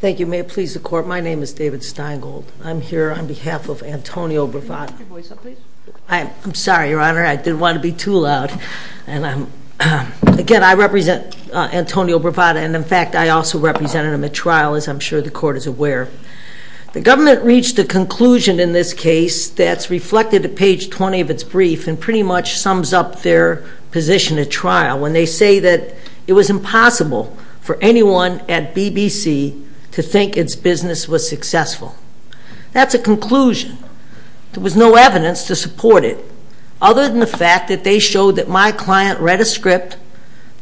Thank you. May it please the Court, my name is David Steingold. I'm here on behalf of Antonio Bravata. I'm sorry, Your Honor, I didn't want to be too loud. Again, I represent Antonio Bravata and, in fact, I also represented him at trial, as I'm sure the Court is aware. The government reached a conclusion in this case that's reflected at page 20 of its brief and pretty much sums up their position at trial, when they say that it was impossible for anyone at BBC to think its business was successful. That's a conclusion. There was no evidence to support it, other than the fact that they showed that my client read a script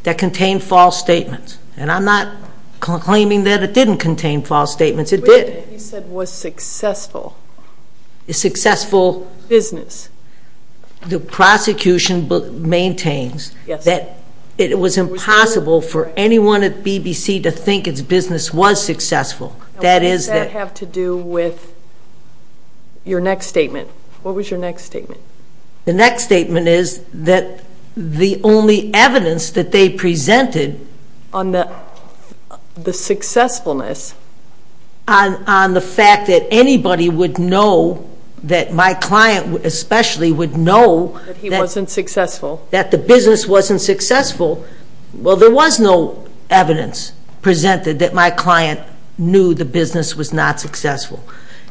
that contained false statements. And I'm not claiming that it didn't contain false statements. It did. You said was successful. Successful. Business. The prosecution maintains that it was impossible for anyone at BBC to think its business was successful. That is. What does that have to do with your next statement? What was your next statement? The next statement is that the only evidence that they presented on the the successfulness, on the fact that anybody would know that my client especially would know that he wasn't successful, that the business wasn't successful, well, there was no evidence presented that my client knew the business was not successful.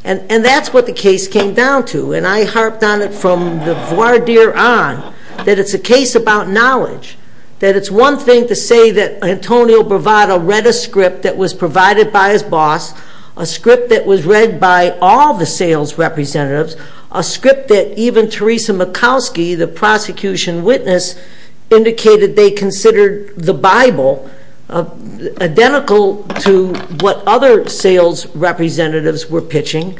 And that's what the case came down to. And I harped on it from the voir dire on, that it's a case about knowledge. That it's one thing to say that Antonio Bravado read a script that was provided by his boss, a script that was read by all the sales representatives, a script that even Theresa Makowski, the prosecution witness, indicated they considered the Bible identical to what other sales representatives were pitching.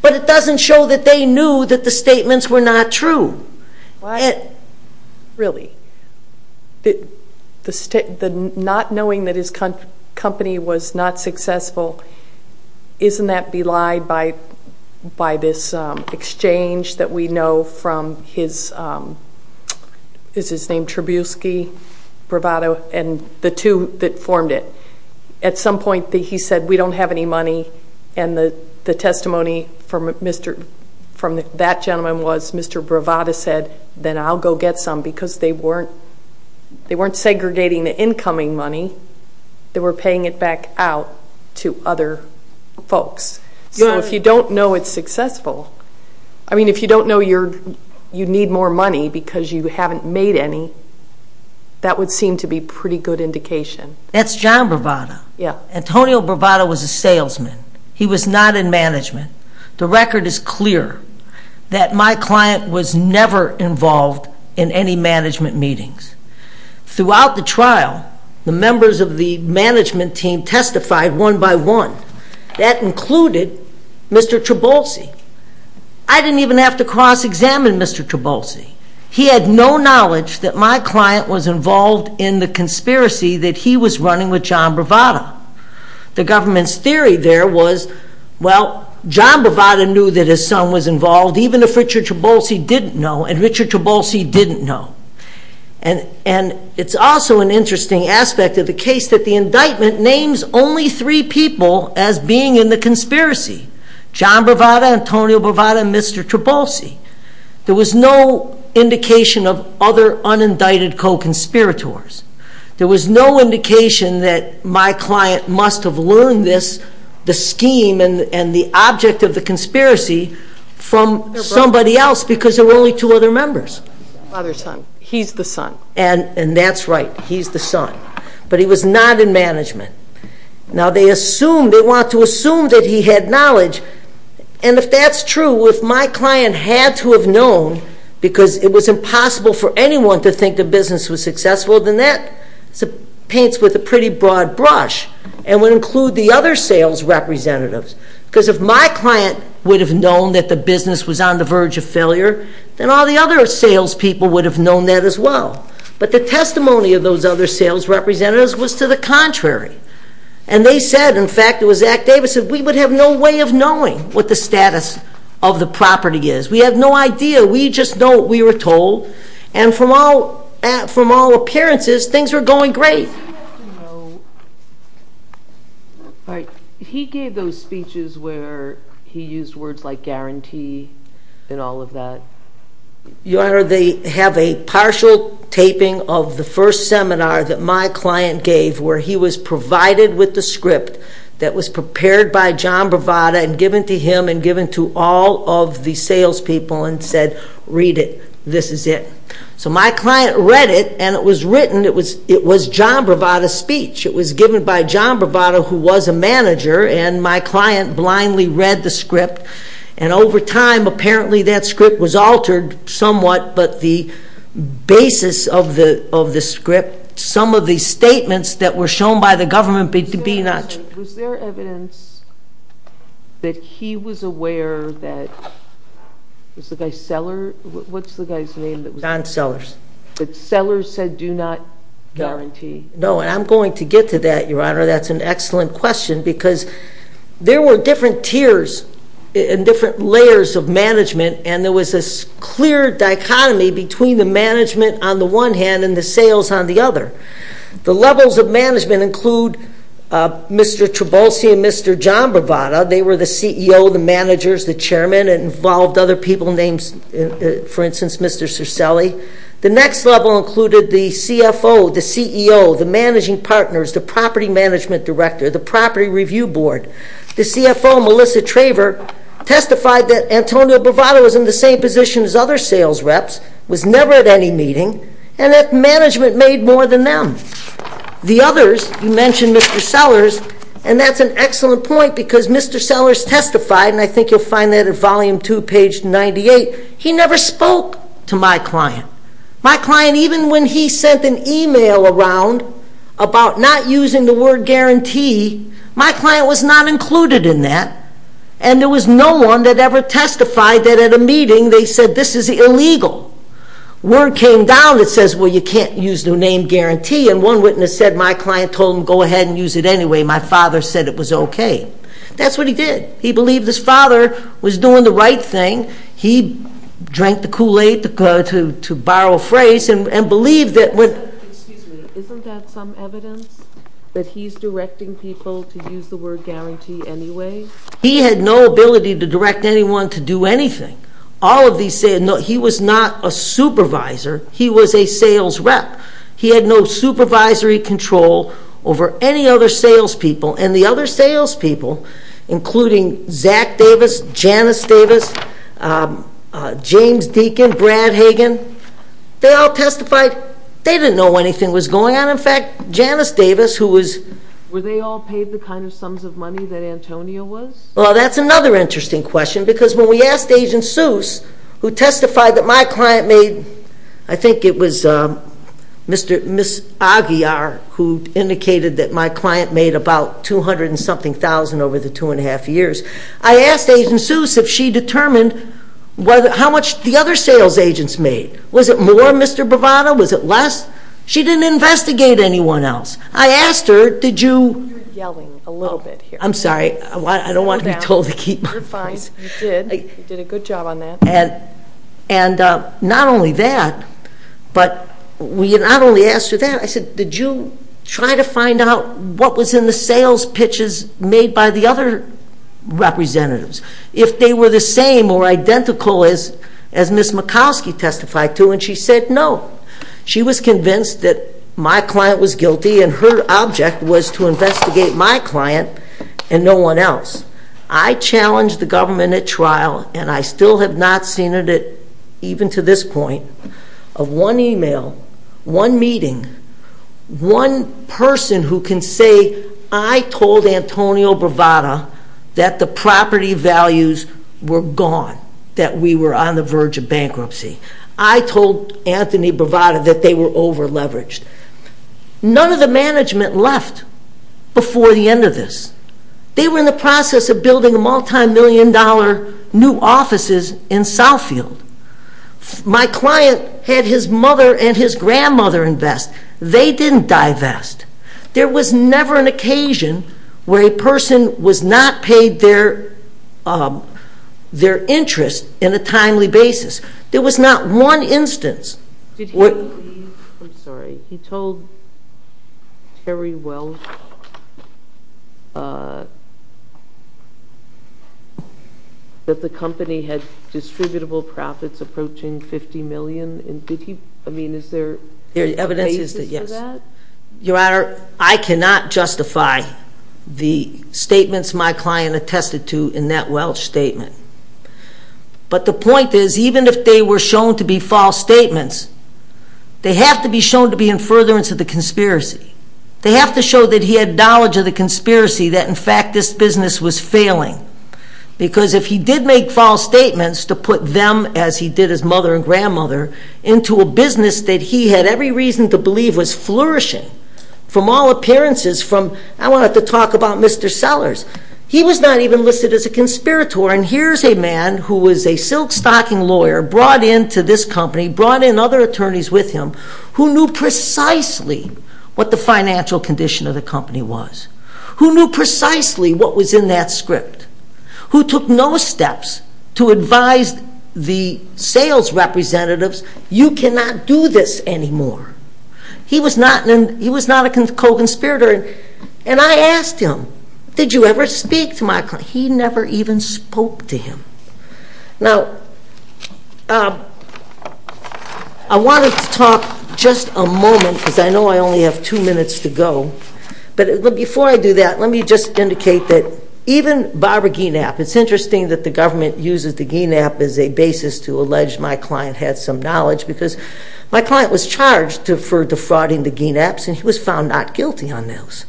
But it doesn't show that they knew that the statements were not true. Really? Not knowing that his company was not successful, isn't that belied by this exchange that we know from his, is his name Trubisky, Bravado, and the two that formed it? At some point he said we don't have any money, and the testimony from that gentleman was Mr. Bravado said, then I'll go get some, because they weren't segregating the incoming money, they were paying it back out to other folks. So if you don't know it's successful, I mean, if you don't know you need more money because you haven't made any, that would seem to be a pretty good indication. That's John Bravado. Antonio Bravado was a salesman. He was not in management. The record is clear that my client was never involved in any management meetings. Throughout the trial, the members of the management team testified one by one. That included Mr. Trabolsi. I didn't even have to cross-examine Mr. Trabolsi. He had no knowledge that my client was involved in the conspiracy that he was running with John Bravado. The government's theory there was, well, John Bravado knew that his son was involved, even if Richard Trabolsi didn't know, and Richard Trabolsi didn't know. And it's also an interesting aspect of the case that the indictment names only three people as being in the conspiracy. John Bravado, Antonio Bravado, and Mr. Trabolsi. There was no indication of other unindicted co-conspirators. There was no indication that my client must have learned this, the scheme and the object of the conspiracy, from somebody else because there were only two other members. Father's son. He's the son. And that's right. He's the son. But he was not in management. Now they want to assume that he had knowledge, and if that's true, if my client had to have known because it was impossible for anyone to think the business was successful, then that paints with a pretty broad brush and would include the other sales representatives. Because if my client would have known that the business was on the verge of failure, then all the other salespeople would have known that as well. But the testimony of those other sales representatives was to the contrary. And they would have no way of knowing what the status of the property is. We have no idea. We just know what we were told. And from all appearances, things were going great. He gave those speeches where he used words like guarantee and all of that. Your Honor, they have a partial taping of the first seminar that my client gave where he was provided with the script that was prepared by John Bravada and given to him and given to all of the salespeople and said, read it. This is it. So my client read it, and it was written. It was John Bravada's speech. It was given by John Bravada, who was a manager, and my client blindly read the script. And over time, apparently that script was altered somewhat, but the basis of the government being not true. Was there evidence that he was aware that, was the guy Seller? What's the guy's name? John Sellers. That Sellers said do not guarantee? No, and I'm going to get to that, Your Honor. That's an excellent question because there were different tiers and different layers of management, and there was this clear dichotomy between the management on the one hand and the sales on the other. The levels of management include Mr. Trabolsi and Mr. John Bravada. They were the CEO, the managers, the chairman, and involved other people, names, for instance, Mr. Cercelli. The next level included the CFO, the CEO, the managing partners, the property management director, the property review board. The CFO, Melissa Traver, testified that Antonio Bravada was in the room. The others, you mentioned Mr. Sellers, and that's an excellent point because Mr. Sellers testified, and I think you'll find that at volume two, page 98, he never spoke to my client. My client, even when he sent an email around about not using the word guarantee, my client was not included in that, and there was no one that ever testified that at a meeting they said this is guarantee, and one witness said my client told him go ahead and use it anyway. My father said it was okay. That's what he did. He believed his father was doing the right thing. He drank the Kool-Aid, to borrow a phrase, and believed that when... Excuse me. Isn't that some evidence that he's directing people to use the word guarantee anyway? He had no ability to direct anyone to do anything. All of these say, no, he was not a supervisor. He was a sales rep. He had no supervisory control over any other sales people, and the other sales people, including Zach Davis, Janice Davis, James Deacon, Brad Hagan, they all testified they didn't know anything was going on. In fact, Janice Davis, who was... Were they all paid the kind of sums of money that Antonio was? Well, that's another interesting question, because when we asked Agent Seuss, who testified that my client made, I think it was Miss Aguiar who indicated that my client made about 200 and something thousand over the two and a half years. I asked Agent Seuss if she determined how much the other sales agents made. Was it more, Mr. Bravado? Was it less? She didn't investigate anyone else. I asked her, did you... You're yelling a little bit here. I'm sorry. I don't want to be told to keep my voice. You're fine. You did. You did a good job on that. And not only that, but we not only asked her that, I said, did you try to find out what was in the sales pitches made by the other representatives? If they were the same or identical as Miss Mikowski testified to, and she said no. She was convinced that my client was and no one else. I challenged the government at trial, and I still have not seen it even to this point, of one email, one meeting, one person who can say, I told Antonio Bravado that the property values were gone, that we were on the verge of bankruptcy. I told Anthony Bravado that they were over-leveraged. None of the management left before the end of this. They were in the process of building multi-million dollar new offices in Southfield. My client had his mother and his grandmother invest. They didn't divest. There was never an occasion where a person was not paid their interest in a timely basis. There was not one instance. Did he believe, I'm sorry, he told Terry Welch that the company had distributable profits approaching 50 million? Your Honor, I cannot justify the statements my client attested to in that Welch statement. But the point is, even if they were shown to be false statements, they have to be shown to be in furtherance of the conspiracy. They have to show that he had knowledge of the conspiracy, that in fact this to put them, as he did his mother and grandmother, into a business that he had every reason to believe was flourishing from all appearances. I don't have to talk about Mr. Sellers. He was not even listed as a conspirator. And here's a man who was a silk stocking lawyer, brought into this company, brought in other attorneys with him, who knew precisely what the financial condition of the company was. Who knew precisely what was in that to advise the sales representatives, you cannot do this anymore. He was not a co-conspirator. And I asked him, did you ever speak to my client? He never even spoke to him. Now, I wanted to talk just a moment, because I know I only have two minutes to go. But before I do that, let me just use the Gienapp as a basis to allege my client had some knowledge, because my client was charged for defrauding the Gienapps, and he was found not guilty on those.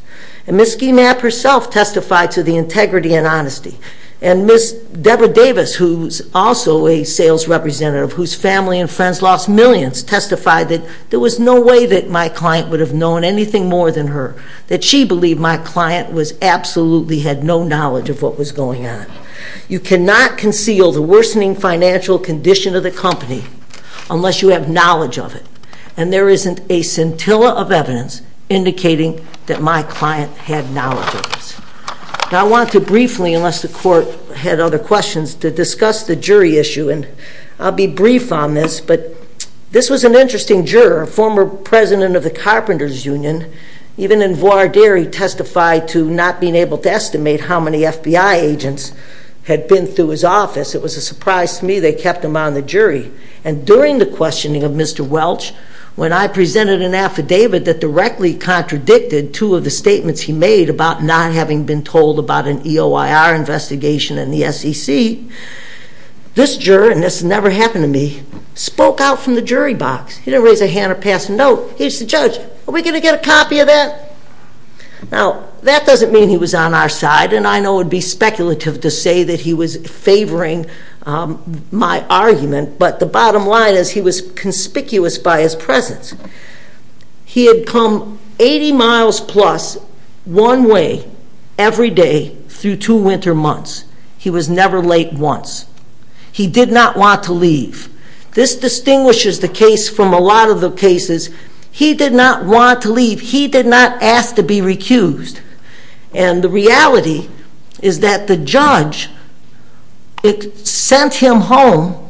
And Ms. Gienapp herself testified to the integrity and honesty. And Ms. Deborah Davis, who's also a sales representative, whose family and friends lost millions, testified that there was no way that my client would have known anything more than her. That she believed my client absolutely had no knowledge of what was going on. You cannot conceal the worsening financial condition of the company unless you have knowledge of it. And there isn't a scintilla of evidence indicating that my client had knowledge of this. Now, I want to briefly, unless the Court had other questions, to discuss the jury issue. And I'll be brief on this, but this was an interesting juror, former president of the Carpenters Union, even in voir dire, he testified to not being able to estimate how many FBI agents had been through his office. It was a surprise to me they kept him on the jury. And during the questioning of Mr. Welch, when I presented an affidavit that directly contradicted two of the statements he made about not having been told about an EOIR investigation in the SEC, this juror, and this has never happened to me, spoke out from the jury box. He didn't raise a hand or pass a note. He said, Judge, are we going to get a copy of that? Now, that doesn't mean he was on our side, and I know it would be speculative to say that he was favoring my argument, but the bottom line is he was conspicuous by his presence. He had come 80 miles plus one way every day through two winter months. He was never late once. He did not want to leave. This distinguishes the case from a lot of the cases. He did not want to leave. He did not ask to be recused. And the reality is that the judge sent him home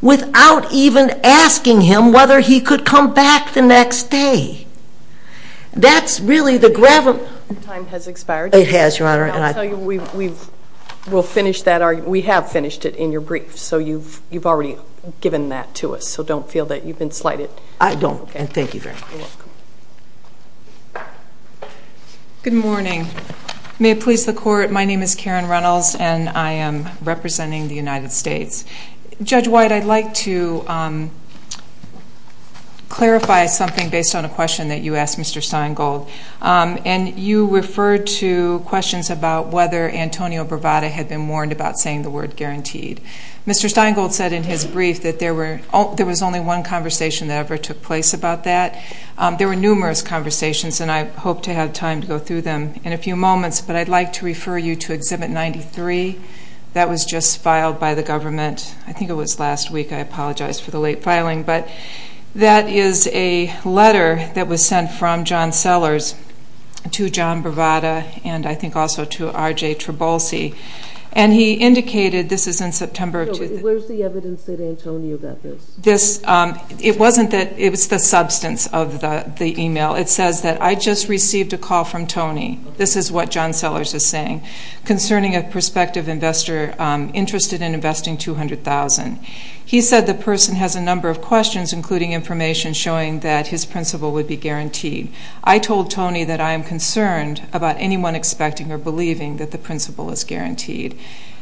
without even asking him whether he could come back the next day. That's really the gravity... Your time has expired. It has, Your Honor, and I... I'll tell you, we have finished it in your brief, so you've already given that to us, so don't feel that you've been slighted. You're welcome. Good morning. May it please the Court, my name is Karen Reynolds, and I am representing the United States. Judge White, I'd like to clarify something based on a question that you asked Mr. Steingold, and you referred to questions about whether Antonio Bravada had been warned about saying the word guaranteed. Mr. Steingold said in his brief that there was only one conversation that ever took place about that. There were numerous conversations, and I hope to have time to go through them in a few moments, but I'd like to refer you to Exhibit 93. That was just filed by the government, I think it was last week, I apologize for the late filing, but that is a letter that was sent from John Sellers to John Bravada, and I think also to R.J. Trabolsi, and he indicated, this is in September... Where's the evidence that Antonio got this? It wasn't that it was the substance of the email, it says that I just received a call from Tony, this is what John Sellers is saying, concerning a prospective investor interested in investing $200,000. He said the person has a number of questions, including information showing that his principle would be guaranteed. I told Tony that I am concerned about anyone expecting or believing that the principle is guaranteed.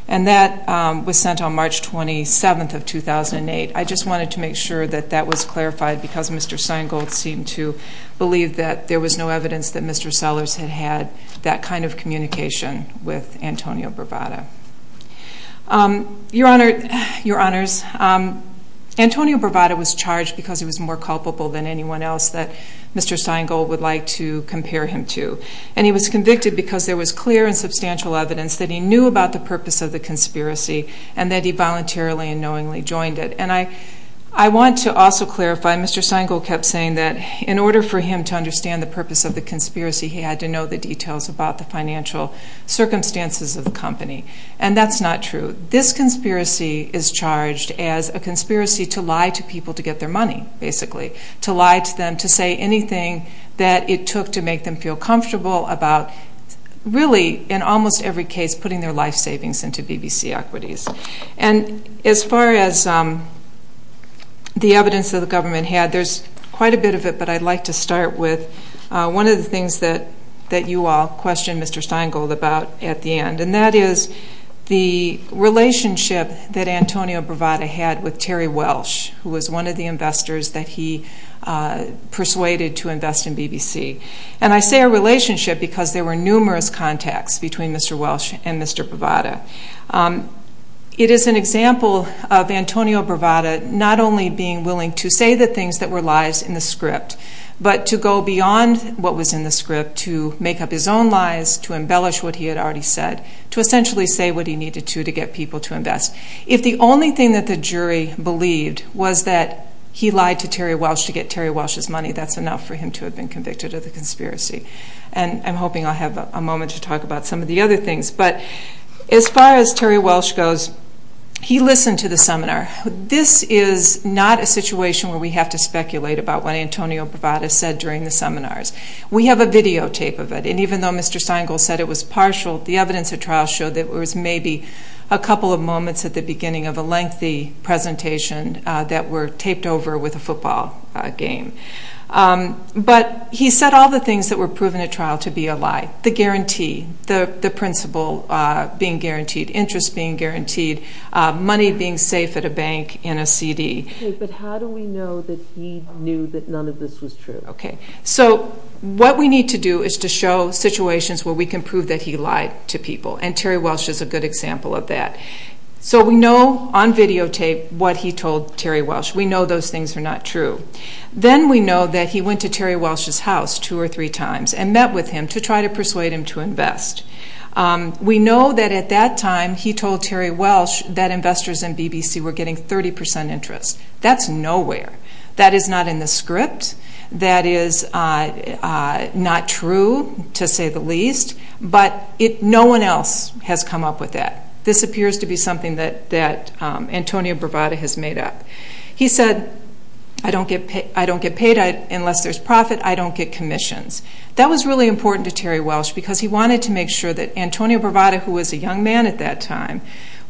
And that was sent on March 27th of 2008. I just wanted to make sure that that was clarified, because Mr. Steingold seemed to believe that there was no evidence that Mr. Sellers had had that kind of communication with Antonio Bravada. Your Honors, Antonio Bravada was charged because he was more culpable than anyone else that Mr. Steingold would like to compare him to. And he was convicted because there was clear and substantial evidence that he knew about the purpose of the conspiracy, and that he voluntarily and knowingly joined it. And I want to also clarify, Mr. Steingold kept saying that in order for him to understand the purpose of the conspiracy, he had to know the details about the financial circumstances of the company. And that's not true. This conspiracy is charged as a conspiracy to lie to people to get their money, basically. To lie to them, to say anything that it took to make them feel comfortable about really, in almost every case, putting their life savings into BBC equities. And as far as the evidence that the government had, there's quite a bit of it, but I'd like to start with one of the things that you all questioned Mr. Steingold about at the end. And that is the relationship that Antonio Bravada had with Terry Welsh, who was one of the investors that he persuaded to invest in BBC. And I say a relationship because there were numerous contacts between Mr. Welsh and Mr. Bravada. It is an example of Antonio Bravada not only being willing to say the things that were lies in the script, but to go beyond what was in the script to make up his own lies, to embellish what he had already said. To essentially say what he needed to to get people to invest. If the only thing that the jury believed was that he lied to Terry Welsh to get Terry Welsh's money, that's enough for him to have been convicted of the conspiracy. And I'm hoping I'll have a moment to talk about some of the other things. But as far as Terry Welsh goes, he listened to the seminar. This is not a situation where we have to speculate about what Antonio Bravada said during the seminars. We have a videotape of it, and even though Mr. Steingold said it was partial, the evidence of trial showed that there was maybe a couple of moments at the beginning of a lengthy presentation that were taped over with a football game. But he said all the things that were proven at trial to be a lie. The guarantee, the principle being guaranteed, interest being guaranteed, money being safe at a bank, and a CD. But how do we know that he knew that none of this was true? So what we need to do is to show situations where we can prove that he lied to people, and Terry Welsh is a good example of that. So we know on videotape what he told Terry Welsh. We know those things are not true. Then we know that he went to Terry Welsh's house two or three times and met with him to try to persuade him to invest. We know that at that time he told Terry Welsh that investors in BBC were getting 30% interest. That's nowhere. That is not in the script. That is not true, to say the least. But no one else has come up with that. This appears to be something that Antonio Bravada has made up. He said, I don't get paid unless there's profit. I don't get commissions. That was really important to Terry Welsh because he wanted to make sure that Antonio Bravada, who was a young man at that time,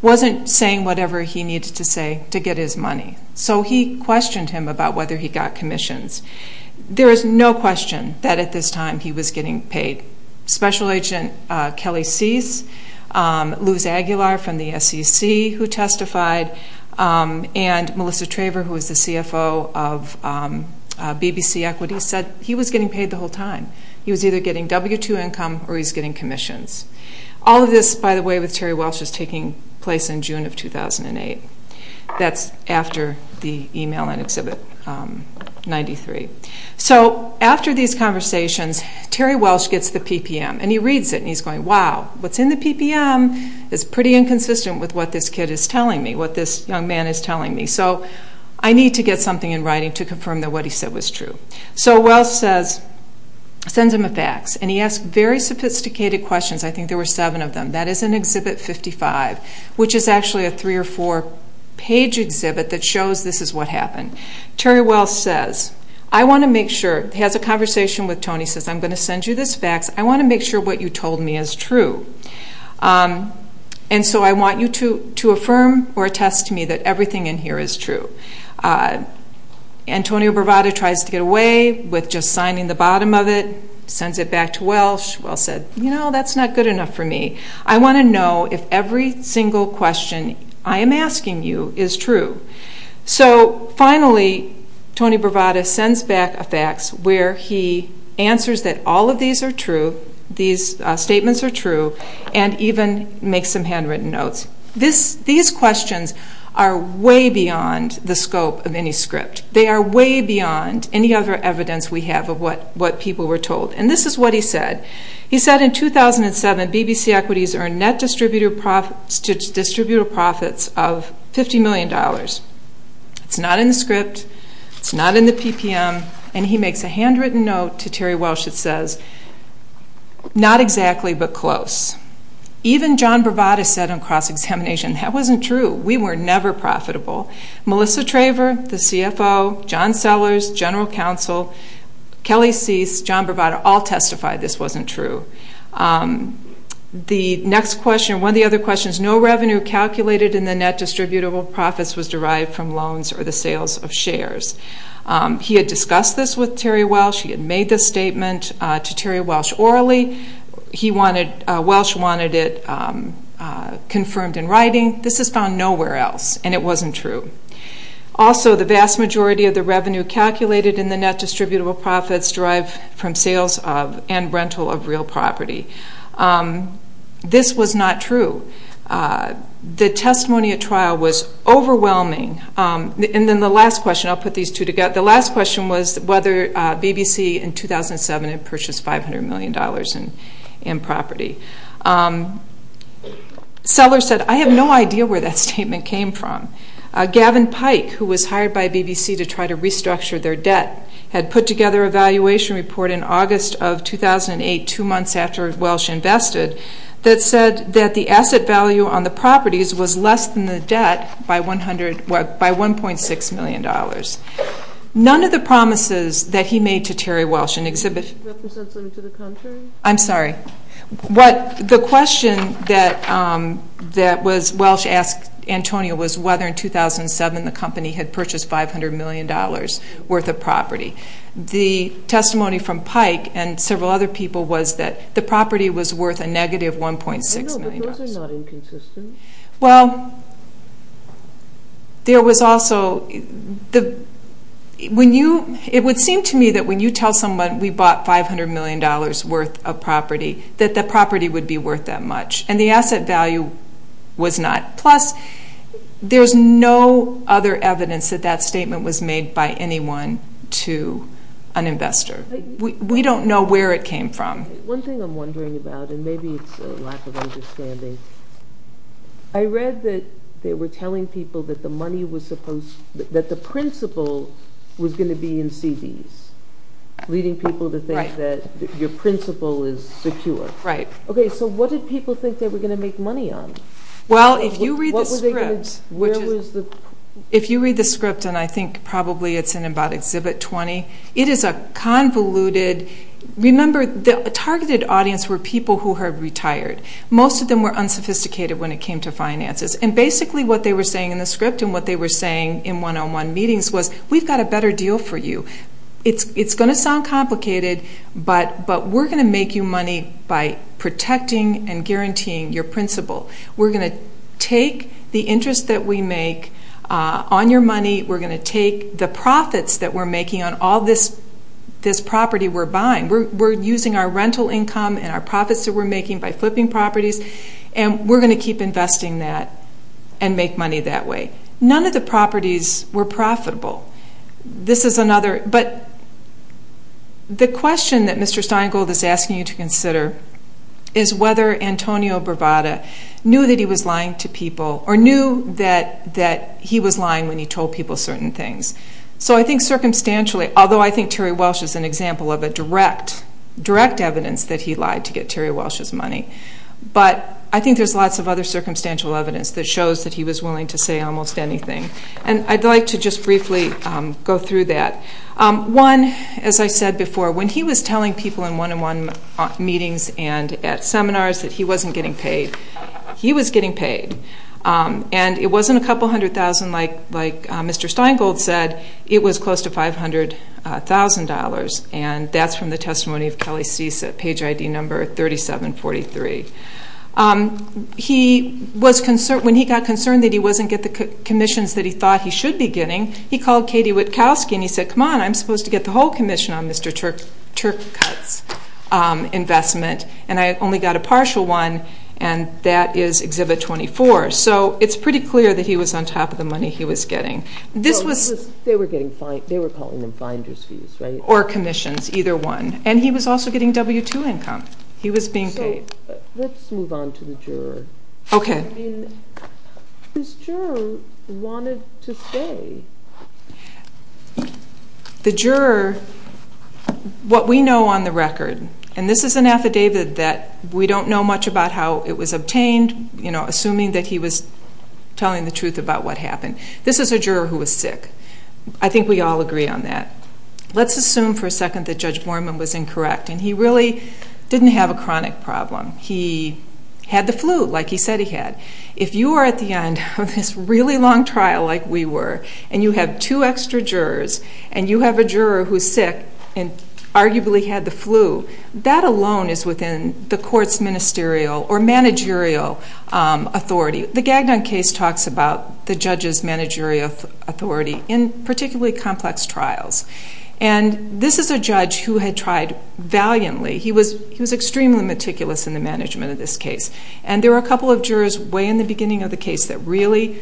wasn't saying whatever he needed to say to get his money. So he questioned him about whether he got commissions. There is no question that at this time he was getting paid. Special Agent Kelly Cease, Luz Aguilar from the SEC who testified, and Melissa Traver, who was the CFO of BBC Equity, said he was getting paid the whole time. He was either getting W-2 income or he was getting commissions. All of this, by the way, with Terry Welsh was taking place in June of 2008. That's after the email in Exhibit 93. So after these conversations, Terry Welsh gets the PPM. And he reads it and he's going, wow, what's in the PPM is pretty inconsistent with what this kid is telling me, what this young man is telling me. So I need to get something in writing to confirm that what he said was true. So Welsh sends him a fax and he asks very sophisticated questions. I think there were seven of them. That is in Exhibit 55, which is actually a three- or four-page exhibit that shows this is what happened. Terry Welsh says, I want to make sure, has a conversation with Tony, says, I'm going to send you this fax. I want to make sure what you told me is true. And so I want you to affirm or attest to me that everything in here is true. Antonio Bravado tries to get away with just signing the bottom of it, sends it back to Welsh. Welsh said, you know, that's not good enough for me. I want to know if every single question I am asking you is true. So finally, Tony Bravado sends back a fax where he answers that all of these are true, these statements are true, and even makes some handwritten notes. These questions are way beyond the scope of any script. They are way beyond any other evidence we have of what people were told. And this is what he said. He said, in 2007, BBC Equities earned net distributive profits of $50 million. It's not in the script. It's not in the PPM. And he makes a handwritten note to Terry Welsh that says, not exactly, but close. Even John Bravado said on cross-examination, that wasn't true. We were never profitable. Melissa Traver, the CFO, John Sellers, General Counsel, Kelly Cease, John Bravado, all testified this wasn't true. The next question, one of the other questions, no revenue calculated in the net distributable profits was derived from loans or the sales of shares. He had discussed this with Terry Welsh. He had made this statement to Terry Welsh orally. Welsh wanted it confirmed in writing. This is found nowhere else, and it wasn't true. Also, the vast majority of the revenue calculated in the net distributable profits derived from sales and rental of real property. This was not true. The testimony at trial was overwhelming. And then the last question, I'll put these two together. The last question was whether BBC in 2007 had purchased $500 million in property. Sellers said, I have no idea where that statement came from. Gavin Pike, who was hired by BBC to try to restructure their debt, had put together a valuation report in August of 2008, two months after Welsh invested, that said that the asset value on the properties was less than the debt by $1.6 million. None of the promises that he made to Terry Welsh in exhibition. I'm sorry. The question that Welsh asked Antonio was whether in 2007 the company had purchased $500 million worth of property. The testimony from Pike and several other people was that the property was worth a negative $1.6 million. I know, but those are not inconsistent. Well, there was also, when you, it would seem to me that when you tell someone we bought $500 million worth of property, that the property would be worth that much. And the asset value was not. Plus, there's no other evidence that that statement was made by anyone to an investor. We don't know where it came from. One thing I'm wondering about, and maybe it's a lack of understanding, I read that they were telling people that the money was supposed, that the principal was going to be in CDs, leading people to think that your principal is secure. Right. Okay, so what did people think they were going to make money on? Well, if you read the script, and I think probably it's in about Exhibit 20, it is a convoluted, remember the targeted audience were people who had retired. Most of them were unsophisticated when it came to finances. And basically what they were saying in the script and what they were saying in one-on-one meetings was, we've got a better deal for you. It's going to sound complicated, but we're going to make you money by protecting and guaranteeing your principal. We're going to take the interest that we make on your money. We're going to take the profits that we're making on all this property we're buying. We're using our rental income and our profits that we're making by flipping properties, and we're going to keep investing that and make money that way. None of the properties were profitable. This is another, but the question that Mr. Steingold is asking you to consider is whether Antonio Bravada knew that he was lying to people or knew that he was lying when he told people certain things. So I think circumstantially, although I think Terry Welsh is an example of a direct evidence that he lied to get Terry Welsh's money, but I think there's lots of other circumstantial evidence that shows that he was willing to say almost anything. And I'd like to just briefly go through that. One, as I said before, when he was telling people in one-on-one meetings and at seminars that he wasn't getting paid, he was getting paid. And it wasn't a couple hundred thousand like Mr. Steingold said. It was close to $500,000, and that's from the testimony of Kelly Cease at page ID number 3743. When he got concerned that he wasn't getting the commissions that he thought he should be getting, he called Katie Witkowski and he said, come on, I'm supposed to get the whole commission on Mr. Turkut's investment, and I only got a partial one, and that is Exhibit 24. So it's pretty clear that he was on top of the money he was getting. They were calling them finder's fees, right? Or commissions, either one. And he was also getting W-2 income. He was being paid. So let's move on to the juror. Okay. I mean, this juror wanted to say. The juror, what we know on the record, and this is an affidavit that we don't know much about how it was obtained, you know, assuming that he was telling the truth about what happened. This is a juror who was sick. I think we all agree on that. Let's assume for a second that Judge Borman was incorrect, and he really didn't have a chronic problem. He had the flu, like he said he had. If you are at the end of this really long trial, like we were, and you have two extra jurors, and you have a juror who's sick and arguably had the flu, that alone is within the court's ministerial or managerial authority. The Gagnon case talks about the judge's managerial authority in particularly complex trials. And this is a judge who had tried valiantly. He was extremely meticulous in the management of this case. And there were a couple of jurors way in the beginning of the case that really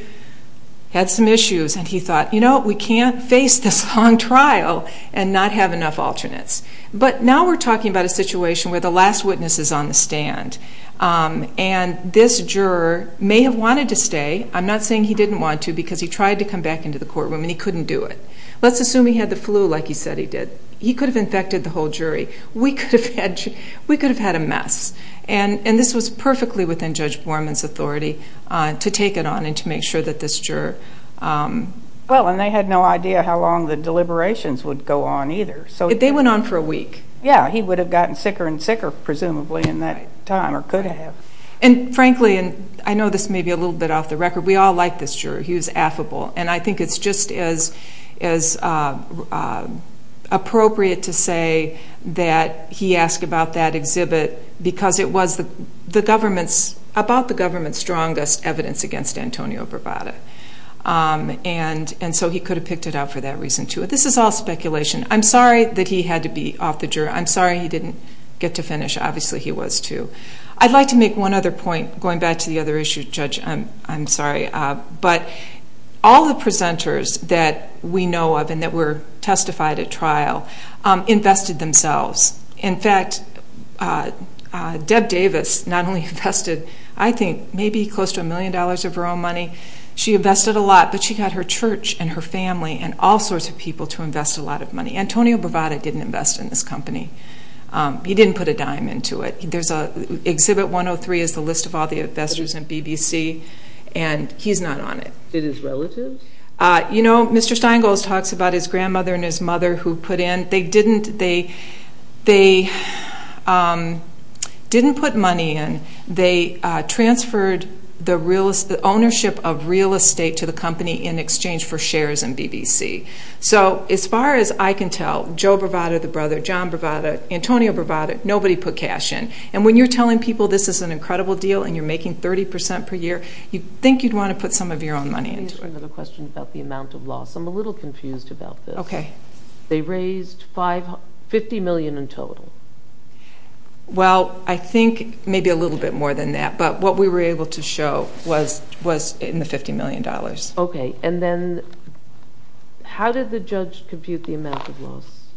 had some issues, and he thought, you know, we can't face this long trial and not have enough alternates. But now we're talking about a situation where the last witness is on the stand, and this juror may have wanted to stay. I'm not saying he didn't want to because he tried to come back into the courtroom, and he couldn't do it. Let's assume he had the flu like he said he did. He could have infected the whole jury. We could have had a mess. And this was perfectly within Judge Borman's authority to take it on and to make sure that this juror... Well, and they had no idea how long the deliberations would go on either. They went on for a week. Yeah, he would have gotten sicker and sicker presumably in that time or could have. And frankly, and I know this may be a little bit off the record, we all like this juror. He was affable. And I think it's just as appropriate to say that he asked about that exhibit because it was about the government's strongest evidence against Antonio Bravada. And so he could have picked it out for that reason too. This is all speculation. I'm sorry that he had to be off the jury. I'm sorry he didn't get to finish. Obviously he was too. I'd like to make one other point going back to the other issue, Judge. I'm sorry. But all the presenters that we know of and that were testified at trial invested themselves. In fact, Deb Davis not only invested, I think, maybe close to a million dollars of her own money. She invested a lot, but she got her church and her family and all sorts of people to invest a lot of money. Antonio Bravada didn't invest in this company. He didn't put a dime into it. Exhibit 103 is the list of all the investors in BBC, and he's not on it. It is relative? You know, Mr. Steingold talks about his grandmother and his mother who put in. They didn't put money in. They transferred the ownership of real estate to the company in exchange for shares in BBC. So as far as I can tell, Joe Bravada, the brother, John Bravada, Antonio Bravada, nobody put cash in. And when you're telling people this is an incredible deal and you're making 30% per year, you'd think you'd want to put some of your own money into it. Let me ask you another question about the amount of loss. I'm a little confused about this. Okay. They raised $50 million in total. Well, I think maybe a little bit more than that, but what we were able to show was in the $50 million. Okay, and then how did the judge compute the amount of loss?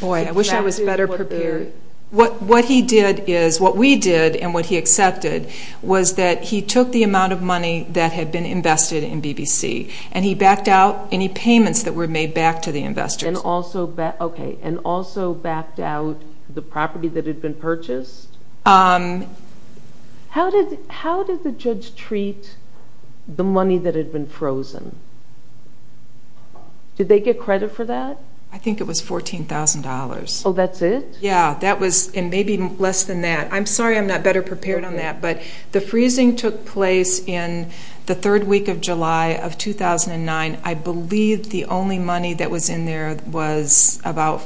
Boy, I wish I was better prepared. What he did is, what we did and what he accepted was that he took the amount of money that had been invested in BBC and he backed out any payments that were made back to the investors. Okay, and also backed out the property that had been purchased? How did the judge treat the money that had been frozen? Did they get credit for that? I think it was $14,000. Oh, that's it? Yeah, and maybe less than that. I'm sorry I'm not better prepared on that, but the freezing took place in the third week of July of 2009. I believe the only money that was in there was about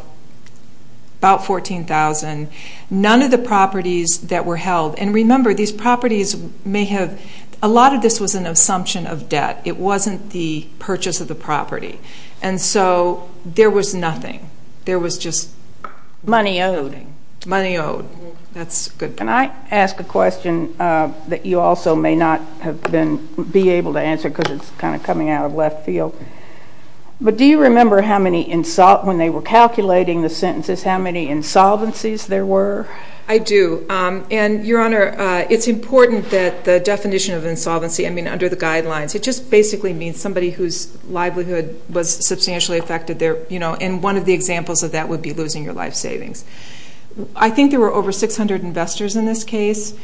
$14,000. None of the properties that were held, and remember, a lot of this was an assumption of debt. It wasn't the purchase of the property, and so there was nothing. There was just money owed. Money owed. That's good. Can I ask a question that you also may not be able to answer because it's kind of coming out of left field? But do you remember when they were calculating the sentences how many insolvencies there were? I do, and, Your Honor, it's important that the definition of insolvency, I mean under the guidelines, it just basically means somebody whose livelihood was substantially affected, and one of the examples of that would be losing your life savings. I think there were over 600 investors in this case.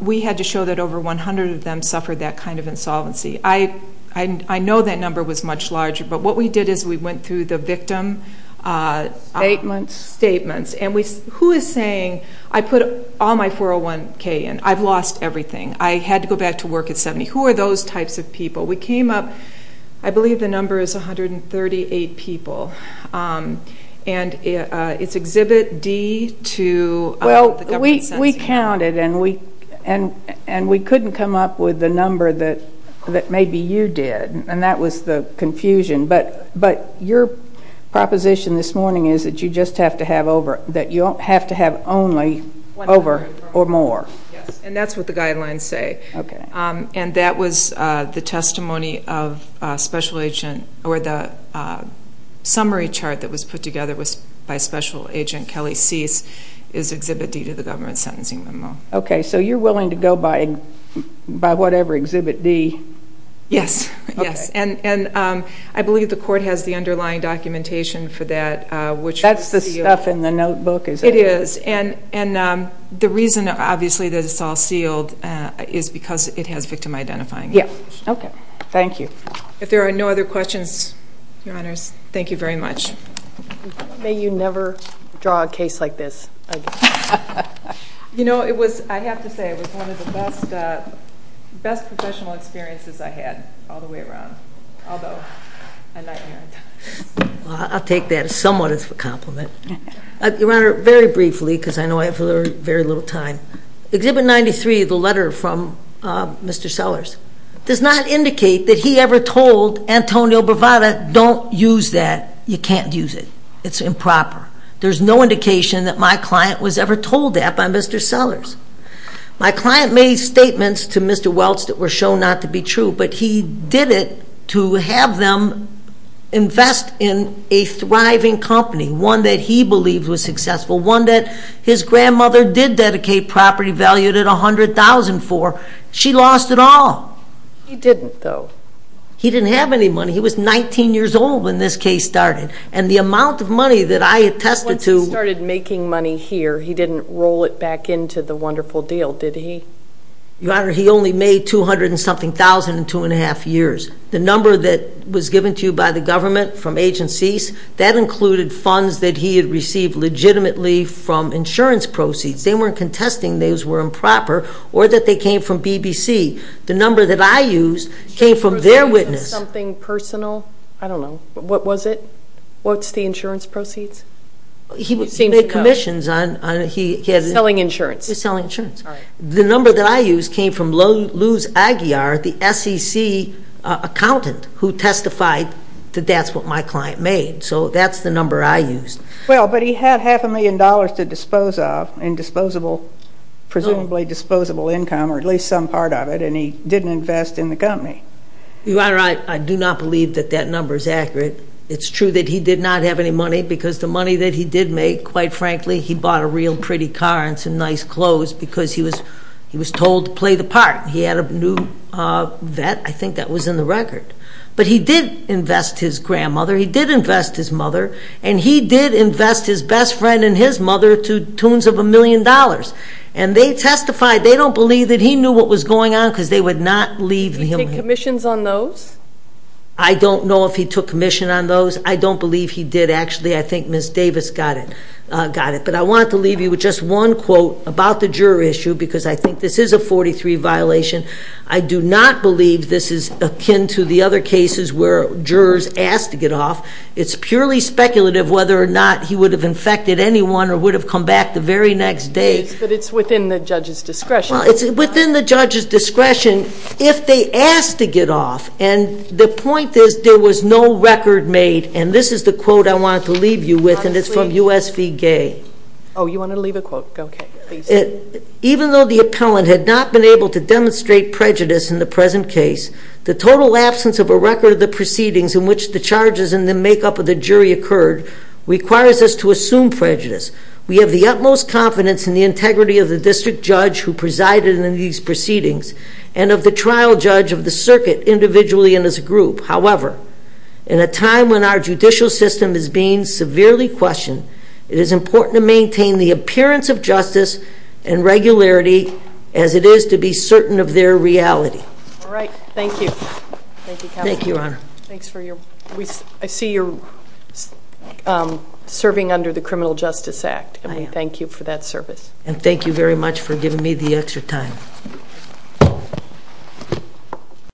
We had to show that over 100 of them suffered that kind of insolvency. I know that number was much larger, but what we did is we went through the victim statements, and who is saying, I put all my 401K in. I've lost everything. I had to go back to work at 70. Who are those types of people? We came up, I believe the number is 138 people, and it's Exhibit D to the government census. We counted, and we couldn't come up with the number that maybe you did, and that was the confusion. But your proposition this morning is that you just have to have over, that you have to have only over or more. Yes, and that's what the guidelines say. Okay. And that was the testimony of special agent, or the summary chart that was put together by special agent Kelly Cease is Exhibit D to the government sentencing memo. Okay, so you're willing to go by whatever, Exhibit D? Yes, yes, and I believe the court has the underlying documentation for that. That's the stuff in the notebook, is it? It is, and the reason, obviously, that it's all sealed is because it has victim identifying. Okay, thank you. If there are no other questions, Your Honors, thank you very much. May you never draw a case like this again. You know, it was, I have to say, it was one of the best professional experiences I had all the way around, although a nightmare at times. I'll take that somewhat as a compliment. Your Honor, very briefly, because I know I have very little time, Exhibit 93, the letter from Mr. Sellers, does not indicate that he ever told Antonio Bravada, don't use that, you can't use it, it's improper. There's no indication that my client was ever told that by Mr. Sellers. My client made statements to Mr. Welts that were shown not to be true, but he did it to have them invest in a thriving company, one that he believed was successful, one that his grandmother did dedicate property valued at $100,000 for. She lost it all. He didn't, though. He didn't have any money. He was 19 years old when this case started, and the amount of money that I attested to Once he started making money here, he didn't roll it back into the wonderful deal, did he? Your Honor, he only made $200,000-something in two and a half years. The number that was given to you by the government from Agencies, that included funds that he had received legitimately from insurance proceeds. They weren't contesting those were improper or that they came from BBC. The number that I used came from their witness. Something personal? I don't know. What was it? What's the insurance proceeds? He made commissions on it. Selling insurance. He was selling insurance. The number that I used came from Luz Aguiar, the SEC accountant, who testified that that's what my client made. So that's the number I used. Well, but he had half a million dollars to dispose of in disposable, presumably disposable income or at least some part of it, and he didn't invest in the company. Your Honor, I do not believe that that number is accurate. It's true that he did not have any money because the money that he did make, quite frankly, he bought a real pretty car and some nice clothes because he was told to play the part. He had a new vet. I think that was in the record. But he did invest his grandmother. He did invest his mother. And he did invest his best friend and his mother to tunes of a million dollars. And they testified they don't believe that he knew what was going on because they would not leave him. Did he take commissions on those? I don't know if he took commission on those. I don't believe he did, actually. I think Ms. Davis got it. But I want to leave you with just one quote about the juror issue because I think this is a 43 violation. I do not believe this is akin to the other cases where jurors asked to get off. It's purely speculative whether or not he would have infected anyone or would have come back the very next day. But it's within the judge's discretion. Well, it's within the judge's discretion if they asked to get off. And the point is there was no record made. And this is the quote I wanted to leave you with, and it's from U.S. v. Gay. Oh, you wanted to leave a quote? Okay. Please. Even though the appellant had not been able to demonstrate prejudice in the present case, the total absence of a record of the proceedings in which the charges and the makeup of the jury occurred requires us to assume prejudice. We have the utmost confidence in the integrity of the district judge who presided in these proceedings and of the trial judge of the circuit individually and as a group. However, in a time when our judicial system is being severely questioned, it is important to maintain the appearance of justice and regularity as it is to be certain of their reality. All right. Thank you. Thank you, Counselor. Thank you, Your Honor. I see you're serving under the Criminal Justice Act. I am. And we thank you for that service. And thank you very much for giving me the extra time.